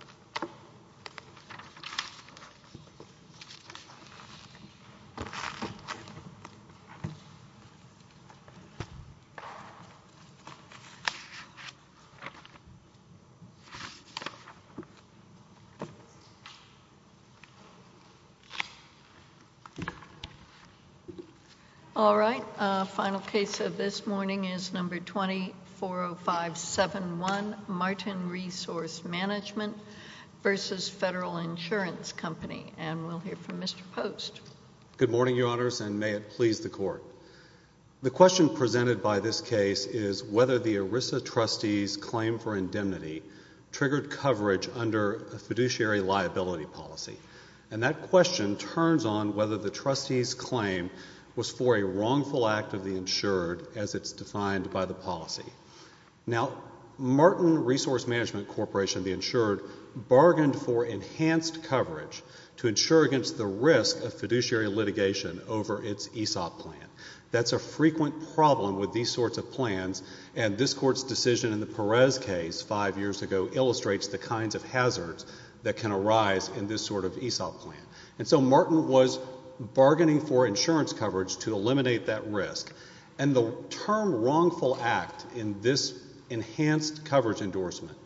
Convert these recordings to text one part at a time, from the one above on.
n All right, final case of this morning is number 240571, Martin Resource Management versus Federal Insurance Company, and we'll hear from Mr. Post. Good morning, Your Honors, and may it please the Court. The question presented by this case is whether the ERISA trustee's claim for indemnity triggered coverage under a fiduciary liability policy, and that question turns on whether the trustee's claim was for a wrongful act of the insured as it's defined by the policy. Now, Martin Resource Management Corporation, the insured, bargained for enhanced coverage to insure against the risk of fiduciary litigation over its ESOP plan. That's a frequent problem with these sorts of plans, and this Court's decision in the Perez case five years ago illustrates the kinds of hazards that can arise in this sort of ESOP plan. And so Martin was bargaining for insurance coverage to eliminate that risk. And the term wrongful act in this enhanced coverage endorsement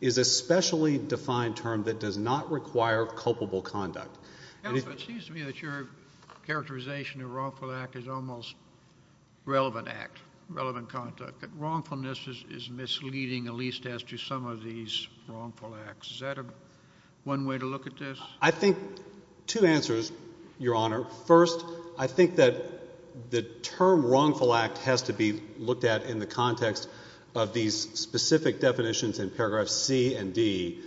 is a specially defined term that does not require culpable conduct. Counsel, it seems to me that your characterization of wrongful act is almost relevant act, relevant conduct, that wrongfulness is misleading at least as to some of these wrongful acts. Is that one way to look at this? I think two answers, Your Honor. First, I think that the term wrongful act has to be looked at in the context of these specific definitions in paragraphs C and D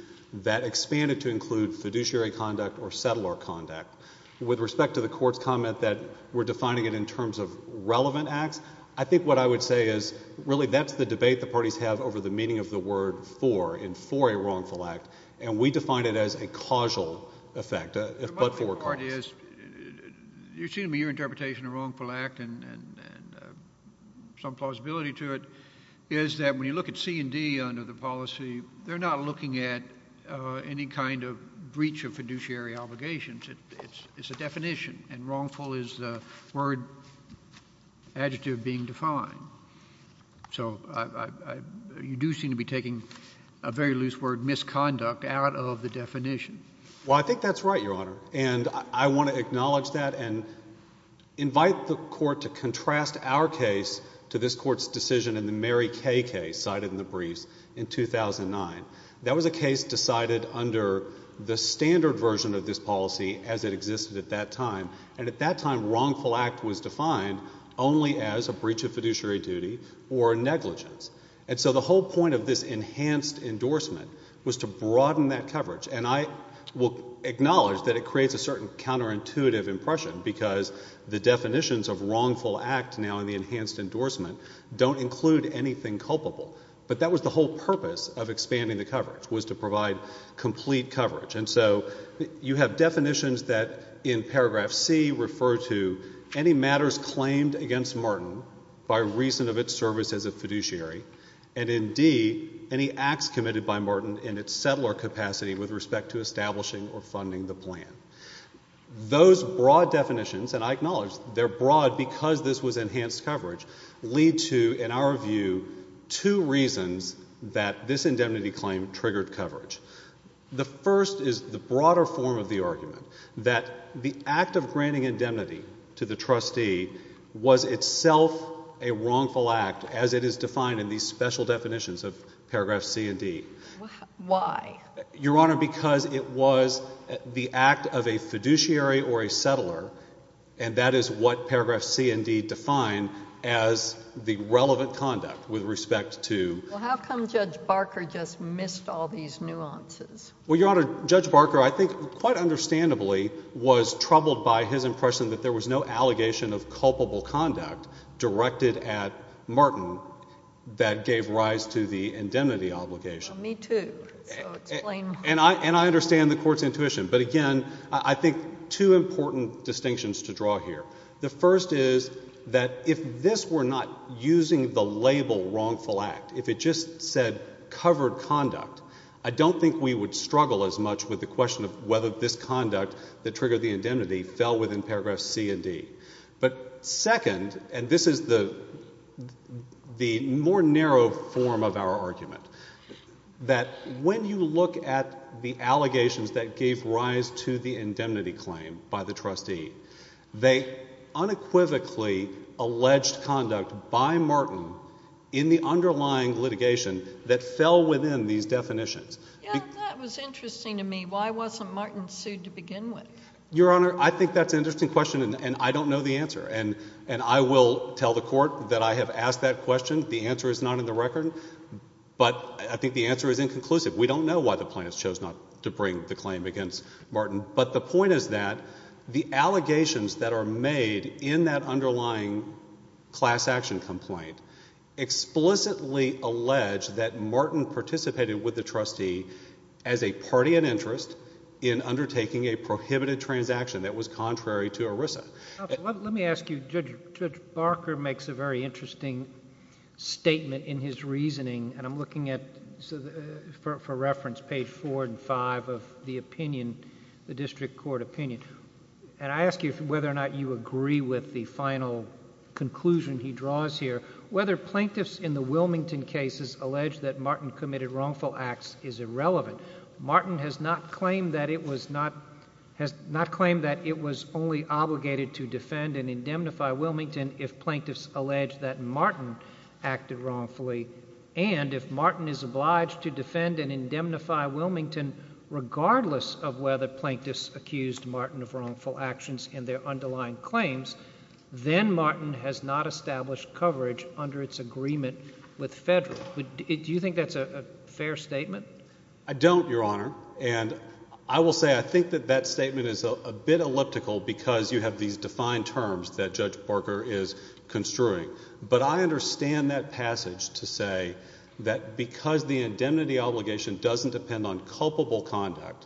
that expand it to include fiduciary conduct or settler conduct. With respect to the Court's comment that we're defining it in terms of relevant acts, I think what I would say is really that's the debate the parties have over the meaning of the word for in for a wrongful act, and we define it as a causal effect, a but-for cause. Your interpretation of wrongful act and some plausibility to it is that when you look at C and D under the policy, they're not looking at any kind of breach of fiduciary obligations. It's a definition, and wrongful is the word adjective being defined. So you do seem to be taking a very loose word, misconduct, out of the definition. Well, I think that's right, Your Honor, and I want to acknowledge that and invite the Court to contrast our case to this Court's decision in the Mary Kay case cited in the briefs in 2009. That was a case decided under the standard version of this policy as it existed at that time, and at that time wrongful act was defined only as a breach of fiduciary duty or negligence. And so the whole point of this enhanced endorsement was to broaden that coverage, and I will acknowledge that it creates a certain counterintuitive impression because the definitions of wrongful act now in the enhanced endorsement don't include anything culpable, but that was the whole purpose of expanding the coverage was to provide complete coverage. And so you have definitions that in paragraph C refer to any matters claimed against Martin by reason of its service as a fiduciary, and in D, any acts committed by Martin in its settler capacity with respect to establishing or funding the plan. Those broad definitions, and I acknowledge they're broad because this was enhanced coverage, lead to, in our view, two reasons that this indemnity claim triggered coverage. The first is the broader form of the argument that the act of granting indemnity to the trustee was itself a wrongful act as it is defined in these special definitions of paragraph C and D. Why? Your Honor, because it was the act of a fiduciary or a settler, and that is what paragraph C and D define as the relevant conduct with respect to— Well, how come Judge Barker just missed all these nuances? Well, Your Honor, Judge Barker I think quite understandably was troubled by his impression that there was no allegation of culpable conduct directed at Martin that gave rise to the indemnity obligation. Well, me too, so explain— And I understand the Court's intuition, but again, I think two important distinctions to draw here. The first is that if this were not using the label wrongful act, if it just said covered conduct, I don't think we would struggle as much with the question of whether this conduct that triggered the indemnity fell within paragraphs C and D. But second, and this is the more narrow form of our argument, that when you look at the allegations that gave rise to the indemnity claim by the trustee, they unequivocally alleged conduct by Martin in the underlying litigation that fell within these definitions. That was interesting to me. Why wasn't Martin sued to begin with? Your Honor, I think that's an interesting question, and I don't know the answer. And I will tell the Court that I have asked that question. The answer is not in the record, but I think the answer is inconclusive. We don't know why the plaintiffs chose not to bring the claim against Martin. But the point is that the allegations that are made in that underlying class action complaint explicitly allege that Martin participated with the trustee as a party in interest in undertaking a prohibited transaction that was contrary to ERISA. Let me ask you, Judge Barker makes a very interesting statement in his reasoning, and I'm looking at, for reference, page four and five of the opinion, the district court opinion. And I ask you whether or not you agree with the final conclusion he draws here, whether plaintiffs in the Wilmington cases allege that Martin committed wrongful acts is irrelevant. Martin has not claimed that it was only obligated to defend and indemnify Wilmington if plaintiffs allege that Martin acted wrongfully, and if Martin is obliged to defend and indemnify Wilmington regardless of whether plaintiffs accused Martin of wrongful actions in their underlying claims, then Martin has not established coverage under its agreement with Federal. Do you think that's a fair statement? I don't, Your Honor, and I will say I think that that statement is a bit elliptical because you have these defined terms that Judge Barker is construing. But I understand that passage to say that because the indemnity obligation doesn't depend on culpable conduct,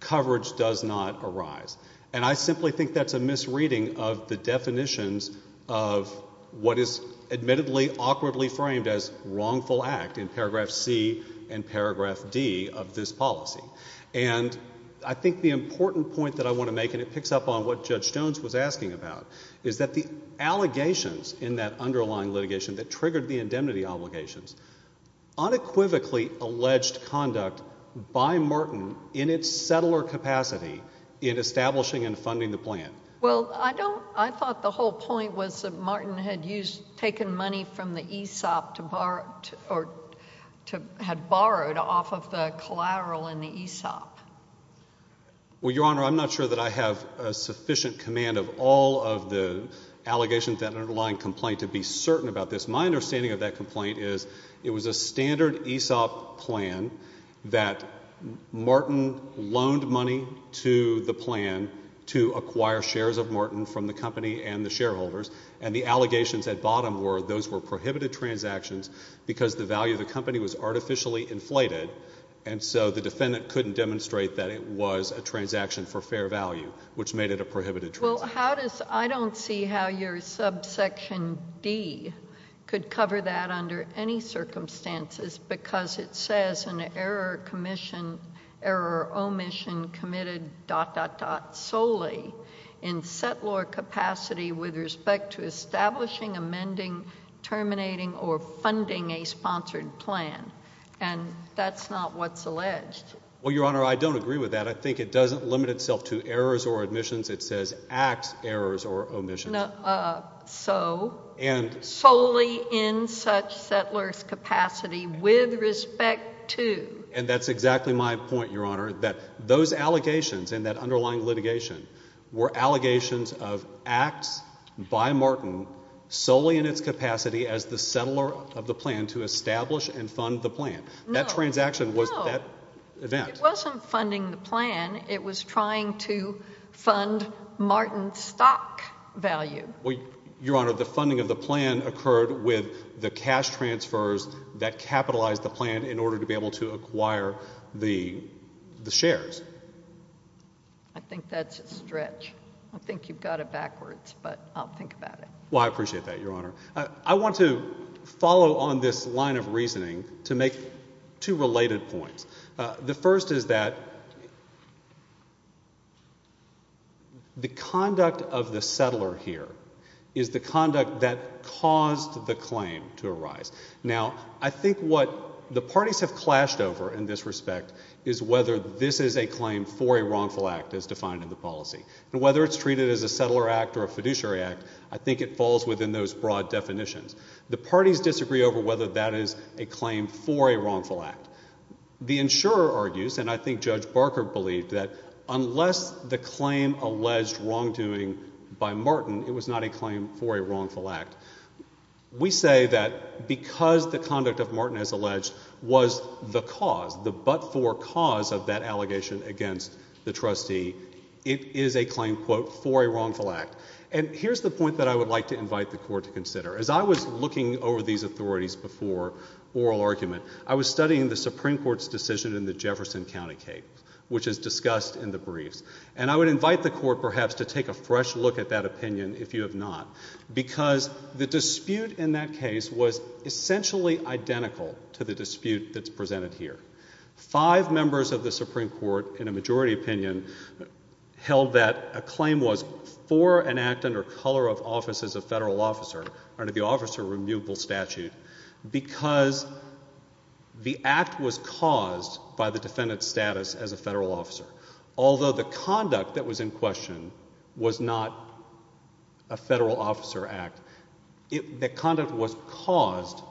coverage does not arise. And I simply think that's a misreading of the definitions of what is admittedly awkwardly framed as wrongful act in paragraph C and paragraph D of this policy. And I think the important point that I want to make, and it picks up on what Judge Jones was asking about, is that the allegations in that underlying litigation that triggered the indemnity obligations unequivocally alleged conduct by Martin in its settler capacity in establishing and funding the plan. Well, I don't, I thought the whole point was that Martin had used, taken money from the ESOP to borrow, or had borrowed off of the collateral in the ESOP. Well, Your Honor, I'm not sure that I have sufficient command of all of the allegations in that underlying complaint to be certain about this. My understanding of that complaint is it was a standard ESOP plan that Martin loaned money to the plan to acquire shares of Martin from the company and the shareholders. And the allegations at bottom were those were prohibited transactions because the value of the company was artificially inflated and so the defendant couldn't demonstrate that it was a transaction for fair value, which made it a prohibited transaction. Well, how does, I don't see how your subsection D could cover that under any circumstances because it says an error or commission, error or omission committed dot, dot, dot solely in settler capacity with respect to establishing, amending, terminating, or funding a sponsored plan. And that's not what's alleged. Well, Your Honor, I don't agree with that. I think it doesn't limit itself to errors or omissions. It says acts, errors, or omissions. So solely in such settler's capacity with respect to. And that's exactly my point, Your Honor, that those allegations in that underlying litigation were allegations of acts by Martin solely in its capacity as the settler of the plan to establish and fund the plan. That transaction was that event. It wasn't funding the plan. It was trying to fund Martin's stock value. Your Honor, the funding of the plan occurred with the cash transfers that capitalized the plan in order to be able to acquire the shares. I think that's a stretch. I think you've got it backwards, but I'll think about it. Well, I appreciate that, Your Honor. I want to follow on this line of reasoning to make two related points. The first is that the conduct of the settler here is the conduct that caused the claim to arise. Now, I think what the parties have clashed over in this respect is whether this is a claim for a wrongful act as defined in the policy. And whether it's treated as a settler act or a fiduciary act, I think it falls within those broad definitions. The parties disagree over whether that is a claim for a wrongful act. The insurer argues, and I think Judge Barker believed, that unless the claim alleged wrongdoing by Martin, it was not a claim for a wrongful act. We say that because the conduct of Martin as alleged was the cause, the but-for cause of that allegation against the trustee, it is a claim, quote, for a wrongful act. And here's the point that I would like to invite the Court to consider. As I was looking over these authorities before oral argument, I was studying the Supreme Court's decision in the Jefferson County case, which is discussed in the briefs. And I would invite the Court, perhaps, to take a fresh look at that opinion, if you have not, because the dispute in that case was essentially identical to the dispute that's presented here. Five members of the Supreme Court, in a majority opinion, held that a claim was for an act under color of office as a federal officer under the Officer Remutable Statute because the act was caused by the defendant's status as a federal officer. Although the conduct that was in question was not a federal officer act. The conduct was caused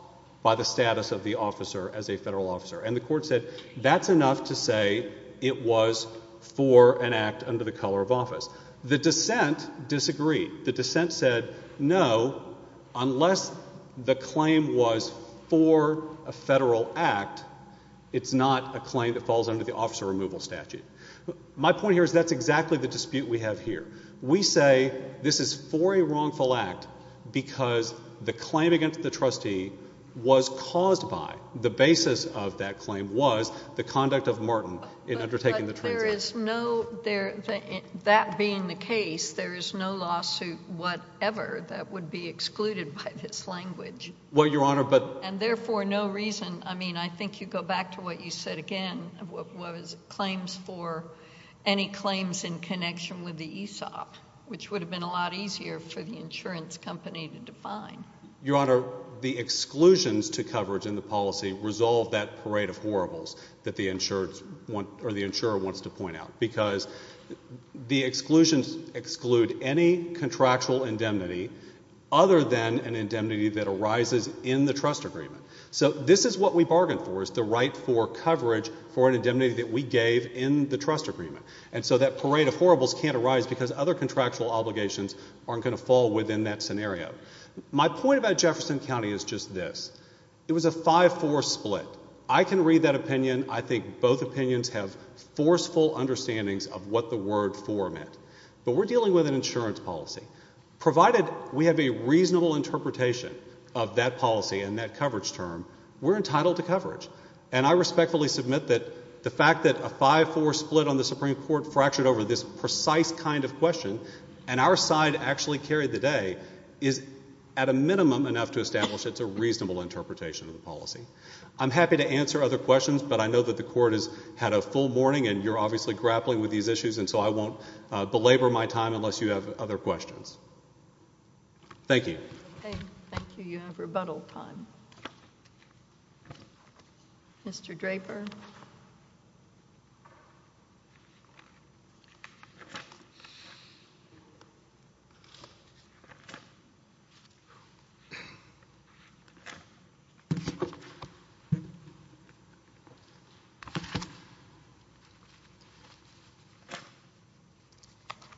by the status of the officer as a federal officer. And the Court said that's enough to say it was for an act under the color of office. The dissent disagreed. The dissent said no, unless the claim was for a federal act, it's not a claim that falls under the Officer Removal Statute. My point here is that's exactly the dispute we have here. We say this is for a wrongful act because the claim against the trustee was caused by, the basis of that claim was, the conduct of Martin in undertaking the transaction. But there is no, that being the case, there is no lawsuit whatever that would be excluded by this language. Well, Your Honor, but. And therefore, no reason, I mean, I think you go back to what you said again of what was claims for any claims in connection with the ESOP, which would have been a lot easier for the insurance company to define. Your Honor, the exclusions to coverage in the policy resolve that parade of horribles that the insurer wants to point out. Because the exclusions exclude any contractual indemnity other than an indemnity that arises in the trust agreement. So this is what we bargained for, is the right for coverage for an indemnity that we gave in the trust agreement. And so that parade of horribles can't arise because other contractual obligations aren't going to fall within that scenario. My point about Jefferson County is just this. It was a 5-4 split. I can read that opinion. I think both opinions have forceful understandings of what the word for meant. But we're dealing with an insurance policy. Provided we have a reasonable interpretation of that policy and that coverage term, we're entitled to coverage. And I respectfully submit that the fact that a 5-4 split on the Supreme Court fractured over this precise kind of question, and our side actually carried the day, is at a minimum enough to establish it's a reasonable interpretation of the policy. I'm happy to answer other questions, but I know that the Court has had a full morning, and you're obviously grappling with these issues, and so I won't belabor my time unless you have other questions. Thank you. Okay, thank you. You have rebuttal time. Mr. Draper.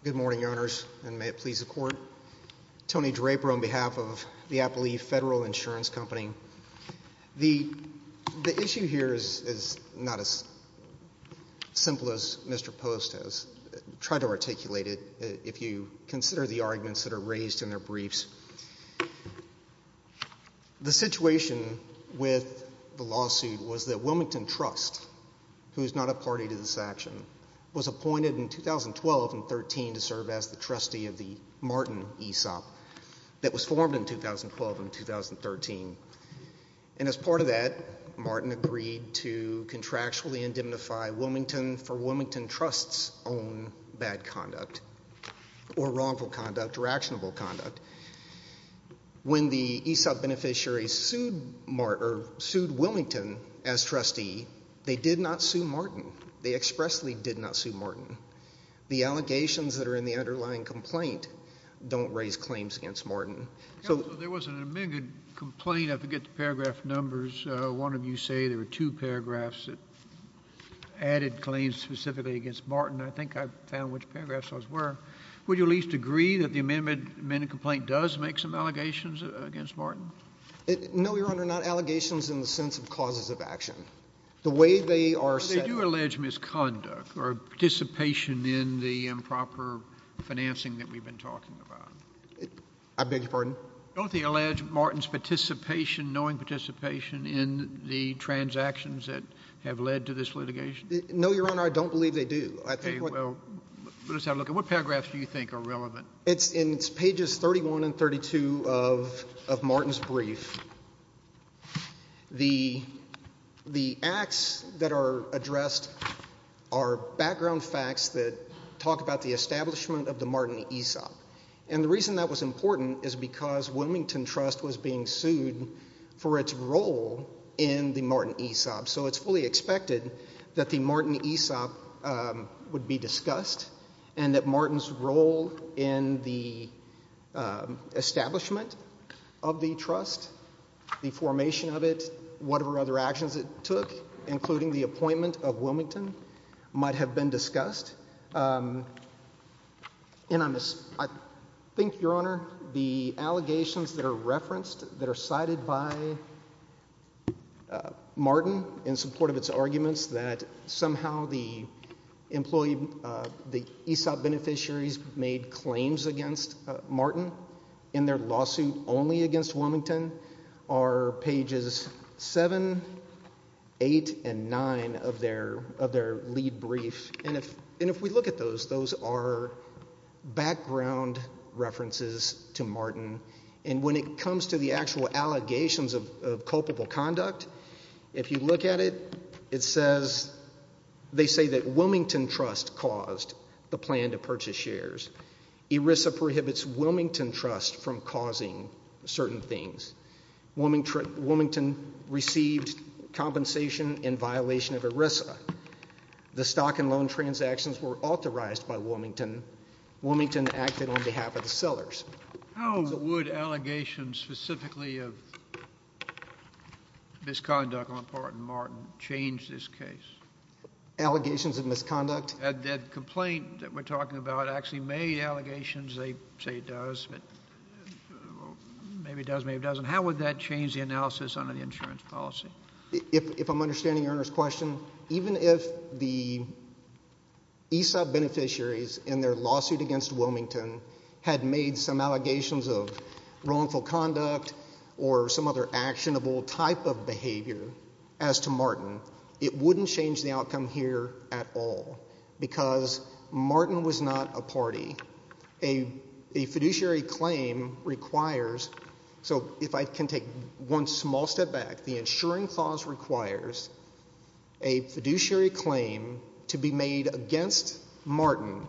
Good morning, Your Honors, and may it please the Court. Tony Draper on behalf of the Appleby Federal Insurance Company. The issue here is not as simple as Mr. Post has tried to articulate it, if you consider the arguments that are raised in their briefs. The situation with the lawsuit was that Wilmington Trust, who is not a party to this action, was appointed in 2012 and 2013 to serve as the trustee of the Martin ESOP that was formed in 2012 and 2013. And as part of that, Martin agreed to contractually indemnify Wilmington for Wilmington Trust's own bad conduct, or wrongful conduct, or actionable conduct. When the ESOP beneficiaries sued Wilmington as trustee, they did not sue Martin. They expressly did not sue Martin. The allegations that are in the underlying complaint don't raise claims against Martin. There was an amended complaint. I forget the paragraph numbers. One of you say there were two paragraphs that added claims specifically against Martin. I think I found which paragraphs those were. Would you at least agree that the amended complaint does make some allegations against Martin? No, Your Honor, not allegations in the sense of causes of action. The way they are set up— But they do allege misconduct or participation in the improper financing that we've been talking about. I beg your pardon? Don't they allege Martin's participation, knowing participation, in the transactions that have led to this litigation? No, Your Honor, I don't believe they do. Okay, well, let us have a look. What paragraphs do you think are relevant? It's in pages 31 and 32 of Martin's brief. The acts that are addressed are background facts that talk about the establishment of the Martin ESOP. And the reason that was important is because Wilmington Trust was being sued for its role in the Martin ESOP. So it's fully expected that the Martin ESOP would be discussed and that Martin's role in the establishment of the trust, the formation of it, whatever other actions it took, including the appointment of Wilmington, might have been discussed. And I think, Your Honor, the allegations that are referenced, that are cited by Martin in support of its arguments, that somehow the ESOP beneficiaries made claims against Martin in their lawsuit only against Wilmington, are pages 7, 8, and 9 of their lead brief. And if we look at those, those are background references to Martin. And when it comes to the actual allegations of culpable conduct, if you look at it, it says they say that Wilmington Trust caused the plan to purchase shares. ERISA prohibits Wilmington Trust from causing certain things. Wilmington received compensation in violation of ERISA. The stock and loan transactions were authorized by Wilmington. Wilmington acted on behalf of the sellers. How would allegations specifically of misconduct on part of Martin change this case? Allegations of misconduct? That complaint that we're talking about actually made allegations. They say it does, but maybe it does, maybe it doesn't. How would that change the analysis under the insurance policy? If I'm understanding your question, even if the ESOP beneficiaries in their lawsuit against Wilmington had made some allegations of wrongful conduct or some other actionable type of behavior as to Martin, it wouldn't change the outcome here at all because Martin was not a party. A fiduciary claim requires, so if I can take one small step back, the insuring clause requires a fiduciary claim to be made against Martin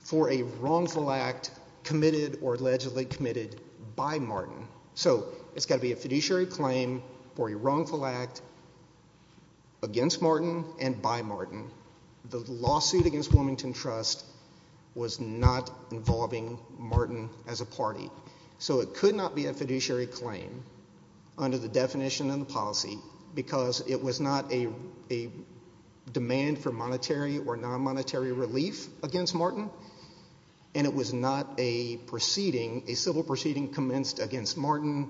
for a wrongful act committed or allegedly committed by Martin. So it's got to be a fiduciary claim for a wrongful act against Martin and by Martin. The lawsuit against Wilmington Trust was not involving Martin as a party, so it could not be a fiduciary claim under the definition and the policy because it was not a demand for monetary or non-monetary relief against Martin, and it was not a proceeding, a civil proceeding commenced against Martin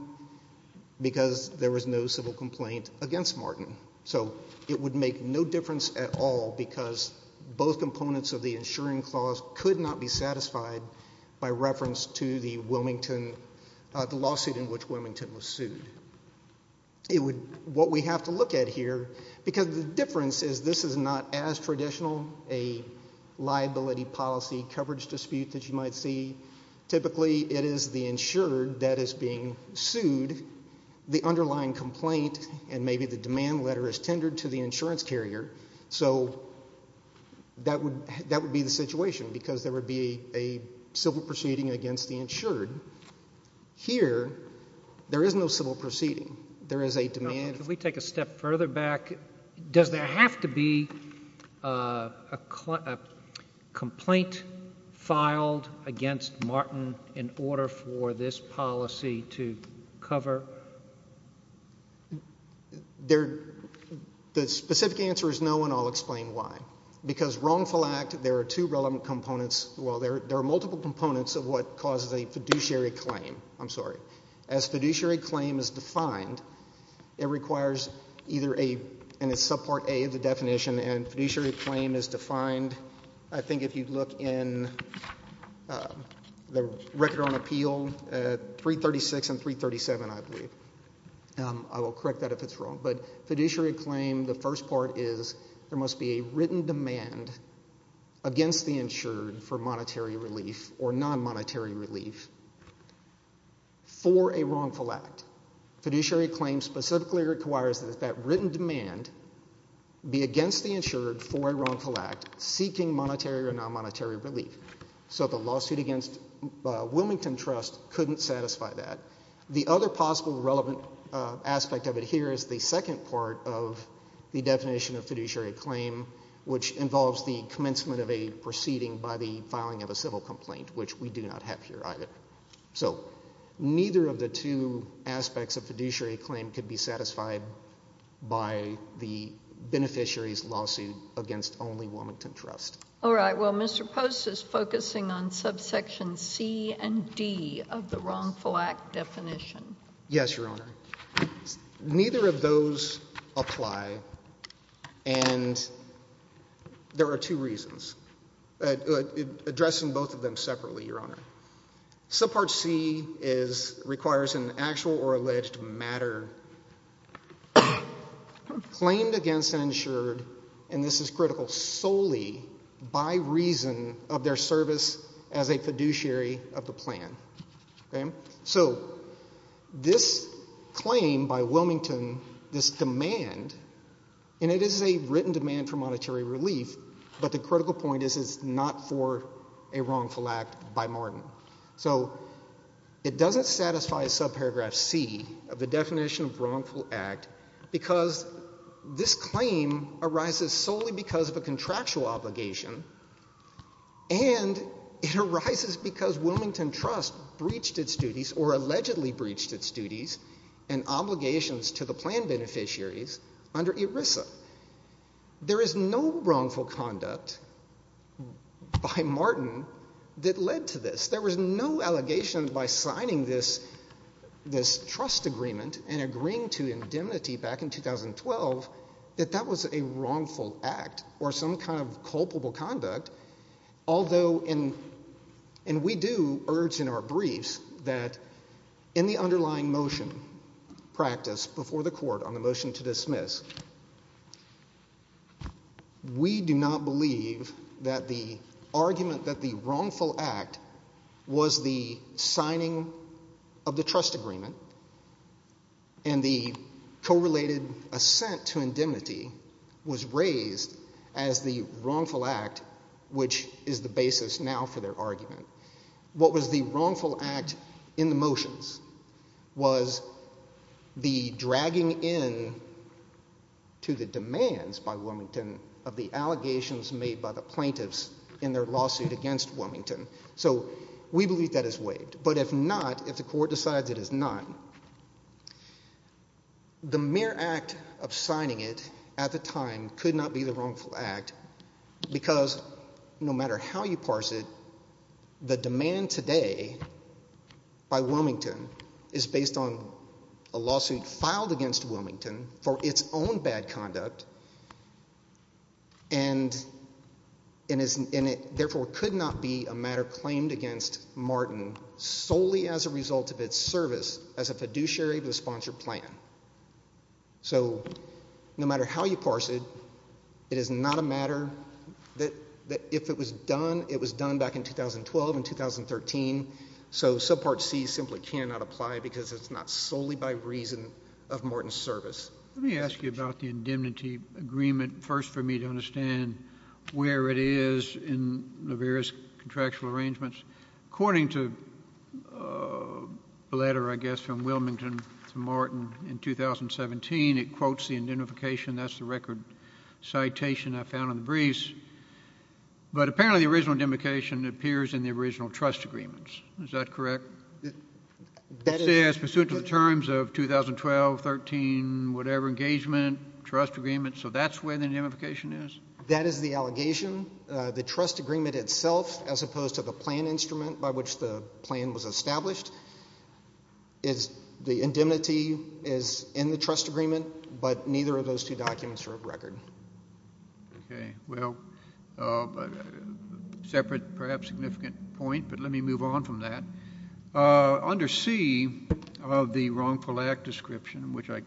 because there was no civil complaint against Martin. So it would make no difference at all because both components of the insuring clause could not be satisfied by reference to the lawsuit in which Wilmington was sued. What we have to look at here, because the difference is this is not as traditional a liability policy coverage dispute that you might see. Typically it is the insured that is being sued. The underlying complaint and maybe the demand letter is tendered to the insurance carrier, so that would be the situation because there would be a civil proceeding against the insured. Here there is no civil proceeding. There is a demand. Can we take a step further back? Does there have to be a complaint filed against Martin in order for this policy to cover? The specific answer is no, and I'll explain why. Because wrongful act, there are two relevant components. Well, there are multiple components of what causes a fiduciary claim. I'm sorry. As fiduciary claim is defined, it requires either a, and it's subpart A of the definition, and fiduciary claim is defined, I think if you look in the record on appeal, 336 and 337 I believe. I will correct that if it's wrong. But fiduciary claim, the first part is there must be a written demand against the insured for monetary relief or non-monetary relief for a wrongful act. Fiduciary claim specifically requires that that written demand be against the insured for a wrongful act seeking monetary or non-monetary relief. So the lawsuit against Wilmington Trust couldn't satisfy that. The other possible relevant aspect of it here is the second part of the definition of fiduciary claim, which involves the commencement of a proceeding by the filing of a civil complaint, which we do not have here either. So neither of the two aspects of fiduciary claim could be satisfied by the beneficiary's lawsuit against only Wilmington Trust. All right. Well, Mr. Post is focusing on subsection C and D of the wrongful act definition. Yes, Your Honor. Neither of those apply, and there are two reasons, addressing both of them separately, Your Honor. Subpart C requires an actual or alleged matter claimed against an insured, and this is critical, solely by reason of their service as a fiduciary of the plan. Okay? So this claim by Wilmington, this demand, and it is a written demand for monetary relief, but the critical point is it's not for a wrongful act by Martin. So it doesn't satisfy subparagraph C of the definition of wrongful act because this claim arises solely because of a contractual obligation and it arises because Wilmington Trust breached its duties or allegedly breached its duties and obligations to the plan beneficiaries under ERISA. There is no wrongful conduct by Martin that led to this. There was no allegation by signing this trust agreement and agreeing to indemnity back in 2012 that that was a wrongful act or some kind of culpable conduct, although we do urge in our briefs that in the underlying motion practiced before the court on the motion to dismiss, we do not believe that the argument that the wrongful act was the signing of the trust agreement and the correlated assent to indemnity was raised as the wrongful act, which is the basis now for their argument. What was the wrongful act in the motions was the dragging in to the demands by Wilmington of the allegations made by the plaintiffs in their lawsuit against Wilmington. So we believe that is waived, but if not, if the court decides it is not, the mere act of signing it at the time could not be the wrongful act because no matter how you parse it, the demand today by Wilmington is based on a lawsuit filed against Wilmington for its own bad conduct and it therefore could not be a matter claimed against Martin solely as a result of its service as a fiduciary of the sponsored plan. So no matter how you parse it, it is not a matter that if it was done, it was done back in 2012 and 2013, so subpart C simply cannot apply because it's not solely by reason of Martin's service. Let me ask you about the indemnity agreement first for me to understand where it is in the various contractual arrangements. According to a letter, I guess, from Wilmington to Martin in 2017, it quotes the indemnification. That's the record citation I found in the briefs. But apparently the original indemnification appears in the original trust agreements. Is that correct? It says pursuant to the terms of 2012, 2013, whatever, engagement, trust agreement. So that's where the indemnification is? That is the allegation. The trust agreement itself, as opposed to the plan instrument by which the plan was established, the indemnity is in the trust agreement, but neither of those two documents are of record. Okay. Well, separate, perhaps significant point, but let me move on from that. Under C of the wrongful act description, which I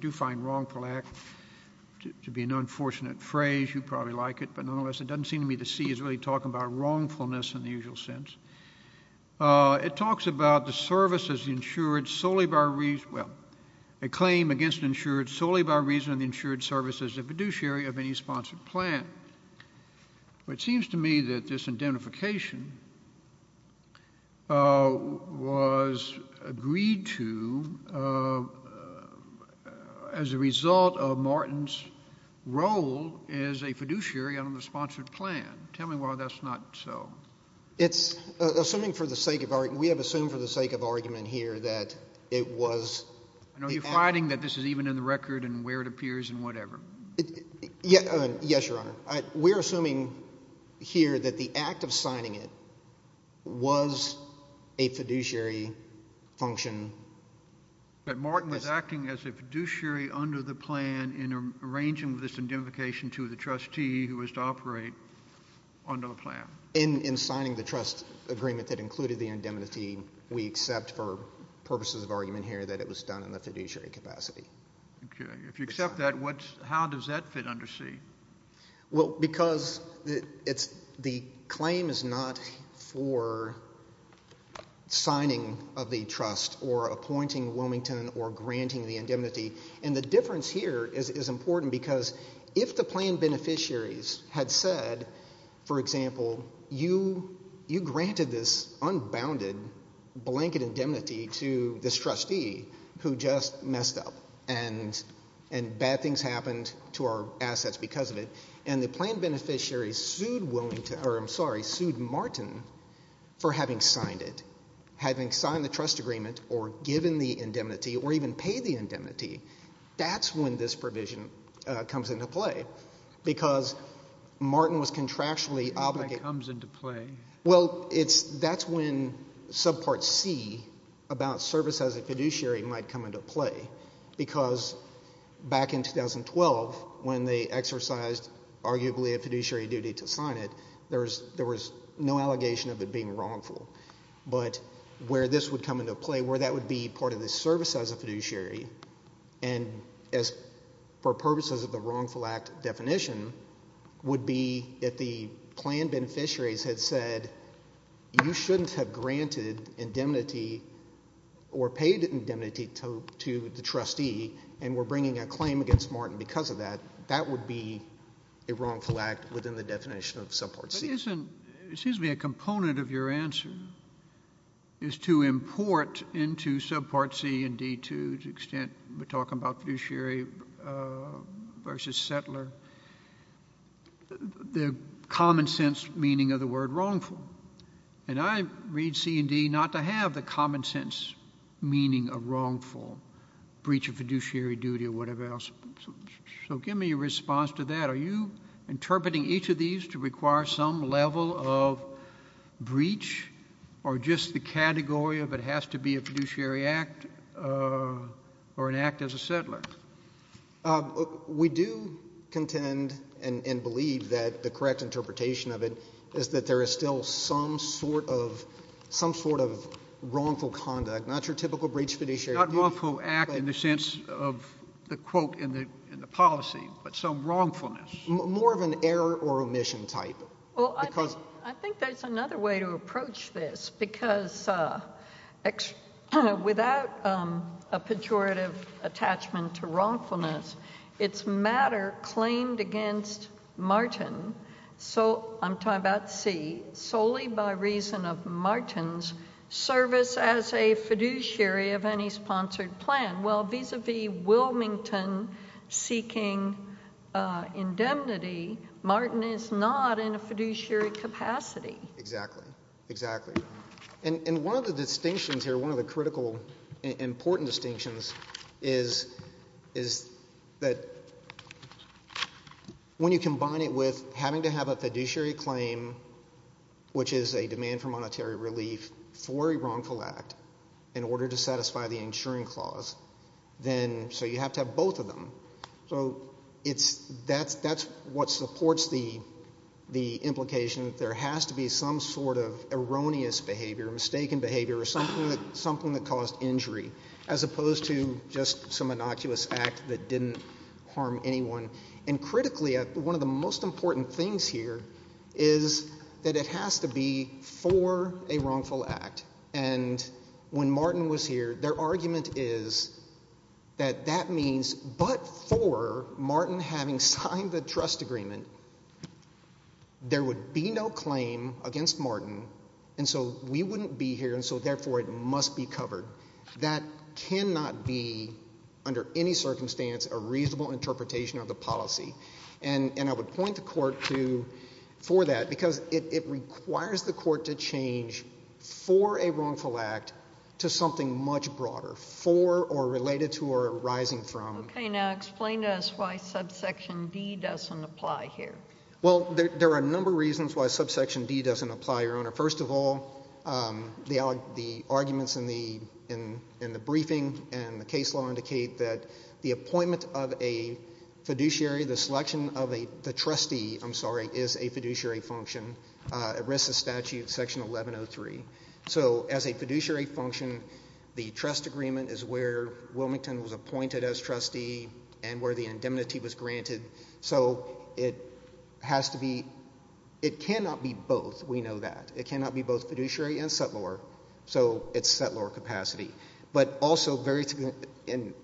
do find wrongful act to be an unfortunate phrase, you'd probably like it, but nonetheless it doesn't seem to me that C is really talking about wrongfulness in the usual sense. It talks about the services insured solely by reason, well, a claim against insured solely by reason of the insured services of fiduciary of any sponsored plan. It seems to me that this indemnification was agreed to as a result of Martin's role as a fiduciary on the sponsored plan. Tell me why that's not so. It's assuming for the sake of argument, we have assumed for the sake of argument here that it was. Are you fighting that this is even in the record and where it appears and whatever? Yes, Your Honor. We're assuming here that the act of signing it was a fiduciary function. But Martin was acting as a fiduciary under the plan in arranging this indemnification to the trustee who was to operate under the plan. In signing the trust agreement that included the indemnity, we accept for purposes of argument here that it was done in the fiduciary capacity. Okay. If you accept that, how does that fit under C? Well, because the claim is not for signing of the trust or appointing Wilmington or granting the indemnity, and the difference here is important because if the plan beneficiaries had said, for example, you granted this unbounded blanket indemnity to this trustee who just messed up and bad things happened to our assets because of it, and the plan beneficiaries sued Martin for having signed it, having signed the trust agreement or given the indemnity or even paid the indemnity, that's when this provision comes into play because Martin was contractually obligated. It comes into play. Well, that's when subpart C about service as a fiduciary might come into play because back in 2012 when they exercised arguably a fiduciary duty to sign it, there was no allegation of it being wrongful. But where this would come into play, where that would be part of the service as a fiduciary, and for purposes of the wrongful act definition would be if the plan beneficiaries had said, you shouldn't have granted indemnity or paid indemnity to the trustee and were bringing a claim against Martin because of that, that would be a wrongful act within the definition of subpart C. This isn't, excuse me, a component of your answer is to import into subpart C and D to the extent we're talking about fiduciary versus settler the common sense meaning of the word wrongful. And I read C and D not to have the common sense meaning of wrongful, breach of fiduciary duty or whatever else. So give me a response to that. Are you interpreting each of these to require some level of breach or just the category of it has to be a fiduciary act or an act as a settler? We do contend and believe that the correct interpretation of it is that there is still some sort of wrongful conduct, not wrongful act in the sense of the quote in the policy, but some wrongfulness. More of an error or omission type. Well, I think there's another way to approach this because without a pejorative attachment to wrongfulness, it's matter claimed against Martin, so I'm talking about C, solely by reason of Martin's service as a fiduciary of any sponsored plan. Well, vis-a-vis Wilmington seeking indemnity, Martin is not in a fiduciary capacity. Exactly, exactly. And one of the distinctions here, one of the critical important distinctions is that when you combine it with having to have a fiduciary claim, which is a demand for monetary relief for a wrongful act, in order to satisfy the insuring clause, then so you have to have both of them. So that's what supports the implication that there has to be some sort of erroneous behavior, mistaken behavior or something that caused injury as opposed to just some innocuous act that didn't harm anyone. And critically, one of the most important things here is that it has to be for a wrongful act. And when Martin was here, their argument is that that means but for Martin having signed the trust agreement, there would be no claim against Martin, and so we wouldn't be here, and so therefore it must be covered. That cannot be, under any circumstance, a reasonable interpretation of the policy. And I would point the court for that because it requires the court to change for a wrongful act to something much broader, for or related to or arising from. Okay. Now explain to us why subsection D doesn't apply here. Well, there are a number of reasons why subsection D doesn't apply, Your Honor. First of all, the arguments in the briefing and the case law indicate that the appointment of a fiduciary, the selection of the trustee, I'm sorry, is a fiduciary function. It rests with statute section 1103. So as a fiduciary function, the trust agreement is where Wilmington was appointed as trustee and where the indemnity was granted. So it has to be, it cannot be both. We know that. It cannot be both fiduciary and settlor. So it's settlor capacity. But also very, and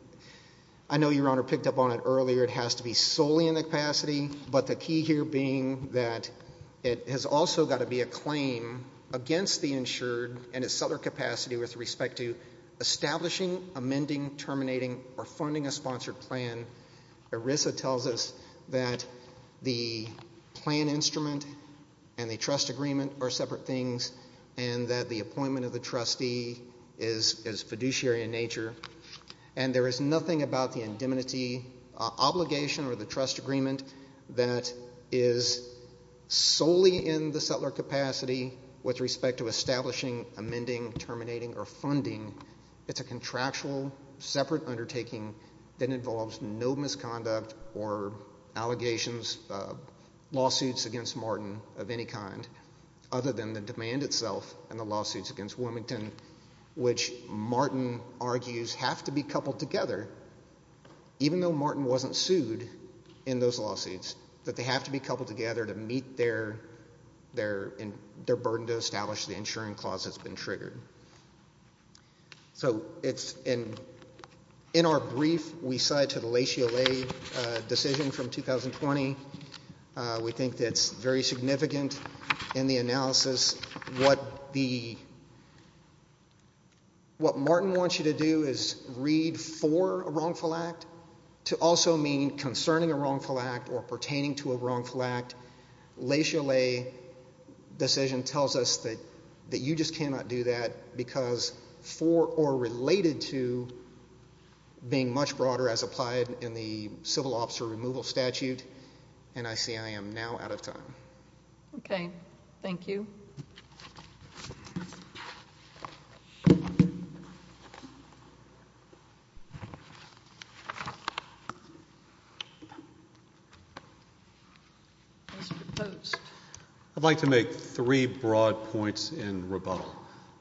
I know Your Honor picked up on it earlier, it has to be solely in the capacity, but the key here being that it has also got to be a claim against the insured and its settlor capacity with respect to establishing, amending, terminating, or funding a sponsored plan. ERISA tells us that the plan instrument and the trust agreement are separate things and that the appointment of the trustee is fiduciary in nature and there is nothing about the indemnity obligation or the trust agreement that is solely in the settlor capacity with respect to establishing, amending, terminating, or funding. It's a contractual separate undertaking that involves no misconduct or allegations, lawsuits against Martin of any kind other than the demand itself and the lawsuits against Wilmington, which Martin argues have to be coupled together, even though Martin wasn't sued in those lawsuits, that they have to be coupled together to meet their burden to establish the insuring clause that's been triggered. So it's in our brief, we cite to the Le Chialet decision from 2020. We think that's very significant in the analysis. What Martin wants you to do is read for a wrongful act to also mean concerning a wrongful act or pertaining to a wrongful act. Le Chialet decision tells us that you just cannot do that because for or related to being much broader as applied in the civil officer removal statute, and I see I am now out of time. Okay. Thank you. What's proposed? I'd like to make three broad points in rebuttal.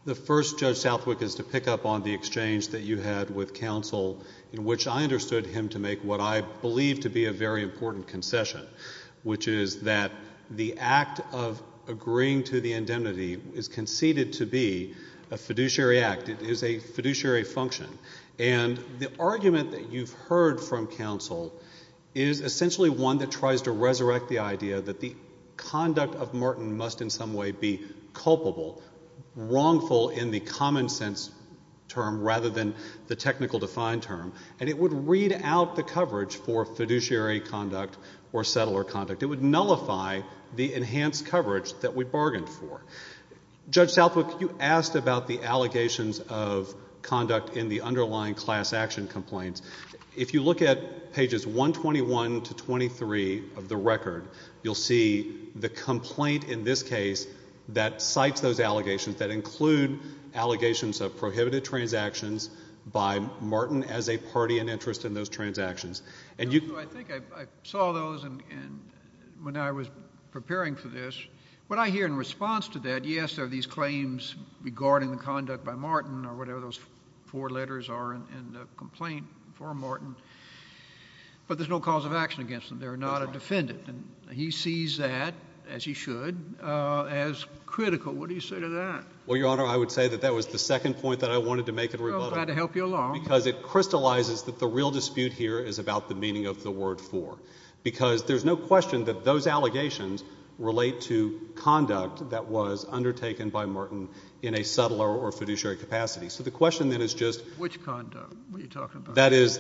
The first, Judge Southwick, is to pick up on the exchange that you had with counsel in which I understood him to make what I believe to be a very important concession, which is that the act of agreeing to the indemnity is conceded to be a fiduciary act. It is a fiduciary function. And the argument that you've heard from counsel is essentially one that tries to resurrect the idea that the conduct of Martin must in some way be culpable, wrongful in the common sense term rather than the technical defined term, and it would read out the coverage for fiduciary conduct or settler conduct. It would nullify the enhanced coverage that we bargained for. Judge Southwick, you asked about the allegations of conduct in the underlying class action complaints. If you look at pages 121 to 23 of the record, you'll see the complaint in this case that cites those allegations that include allegations of prohibited transactions by Martin as a party in interest in those transactions. I think I saw those when I was preparing for this. What I hear in response to that, yes, there are these claims regarding the conduct by Martin or whatever those four letters are in the complaint for Martin, but there's no cause of action against them. They're not a defendant, and he sees that, as he should, as critical. What do you say to that? Well, Your Honor, I would say that that was the second point that I wanted to make in rebuttal. Well, glad to help you along. Because it crystallizes that the real dispute here is about the meaning of the word for, because there's no question that those allegations relate to conduct that was undertaken by Martin in a subtler or fiduciary capacity. So the question then is just the conduct that is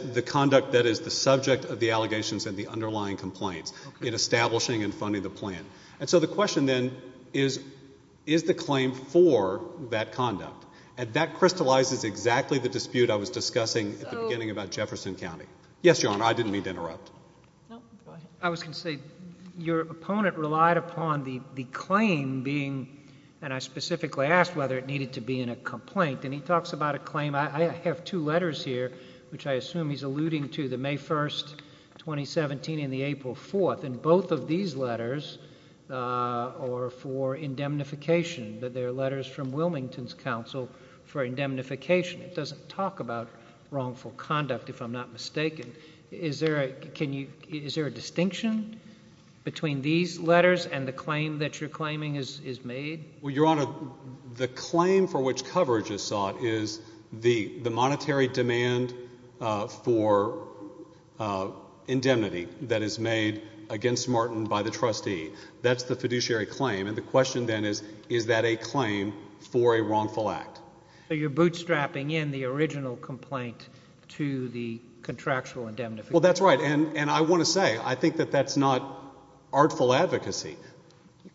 the subject of the allegations and the underlying complaints in establishing and funding the plan. And so the question then is, is the claim for that conduct? And that crystallizes exactly the dispute I was discussing at the beginning about Jefferson County. Yes, Your Honor, I didn't mean to interrupt. No, go ahead. I was going to say, your opponent relied upon the claim being, and I specifically asked whether it needed to be in a complaint, and he talks about a claim. I have two letters here, which I assume he's alluding to, the May 1, 2017, and the April 4. And both of these letters are for indemnification. They're letters from Wilmington's counsel for indemnification. It doesn't talk about wrongful conduct, if I'm not mistaken. Is there a distinction between these letters and the claim that you're claiming is made? Well, Your Honor, the claim for which coverage is sought is the monetary demand for indemnity that is made against Martin by the trustee. That's the fiduciary claim. And the question then is, is that a claim for a wrongful act? So you're bootstrapping in the original complaint to the contractual indemnification. Well, that's right. And I want to say, I think that that's not artful advocacy.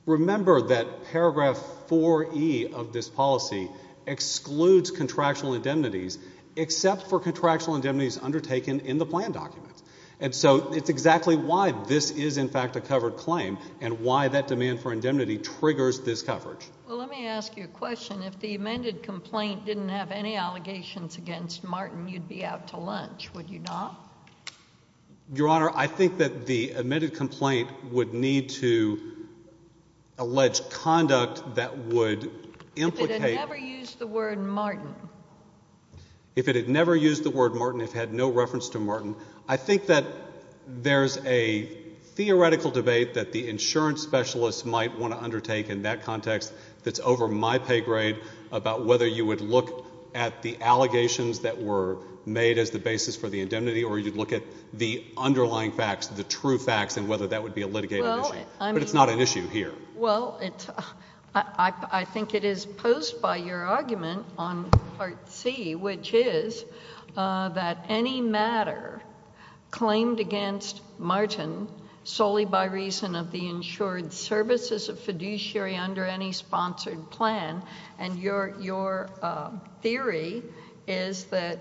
Remember that paragraph 4E of this policy excludes contractual indemnities except for contractual indemnities undertaken in the plan documents. And so it's exactly why this is, in fact, a covered claim and why that demand for indemnity triggers this coverage. Well, let me ask you a question. If the amended complaint didn't have any allegations against Martin, you'd be out to lunch, would you not? Your Honor, I think that the amended complaint would need to allege conduct that would implicate... If it had never used the word Martin. If it had never used the word Martin, if it had no reference to Martin. I think that there's a theoretical debate that the insurance specialist might want to undertake in that context that's over my pay grade about whether you would look at the allegations that were made as the basis for the indemnity or you'd look at the underlying facts, the true facts, and whether that would be a litigating issue. But it's not an issue here. Well, I think it is posed by your argument on Part C, which is that any matter claimed against Martin solely by reason of the insured services of fiduciary under any sponsored plan, and your theory is that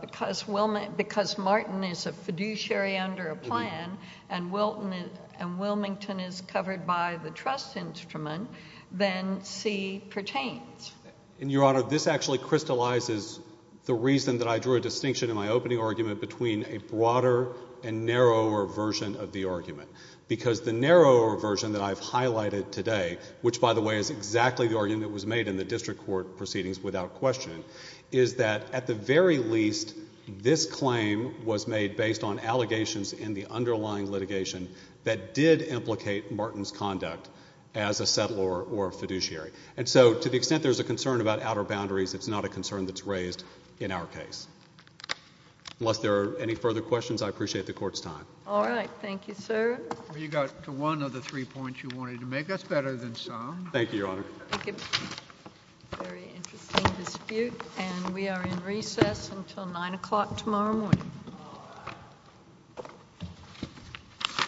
because Martin is a fiduciary under a plan and Wilmington is covered by the trust instrument, then C pertains. And, Your Honor, this actually crystallizes the reason that I drew a distinction in my opening argument between a broader and narrower version of the argument, because the narrower version that I've highlighted today, which, by the way, is exactly the argument that was made in the district court proceedings without question, is that at the very least this claim was made based on allegations in the underlying litigation that did implicate Martin's conduct as a settler or a fiduciary. And so to the extent there's a concern about outer boundaries, it's not a concern that's raised in our case. Unless there are any further questions, I appreciate the Court's time. All right. Thank you, sir. You got to one of the three points you wanted to make. That's better than some. Thank you, Your Honor. I think it's a very interesting dispute, and we are in recess until 9 o'clock tomorrow morning.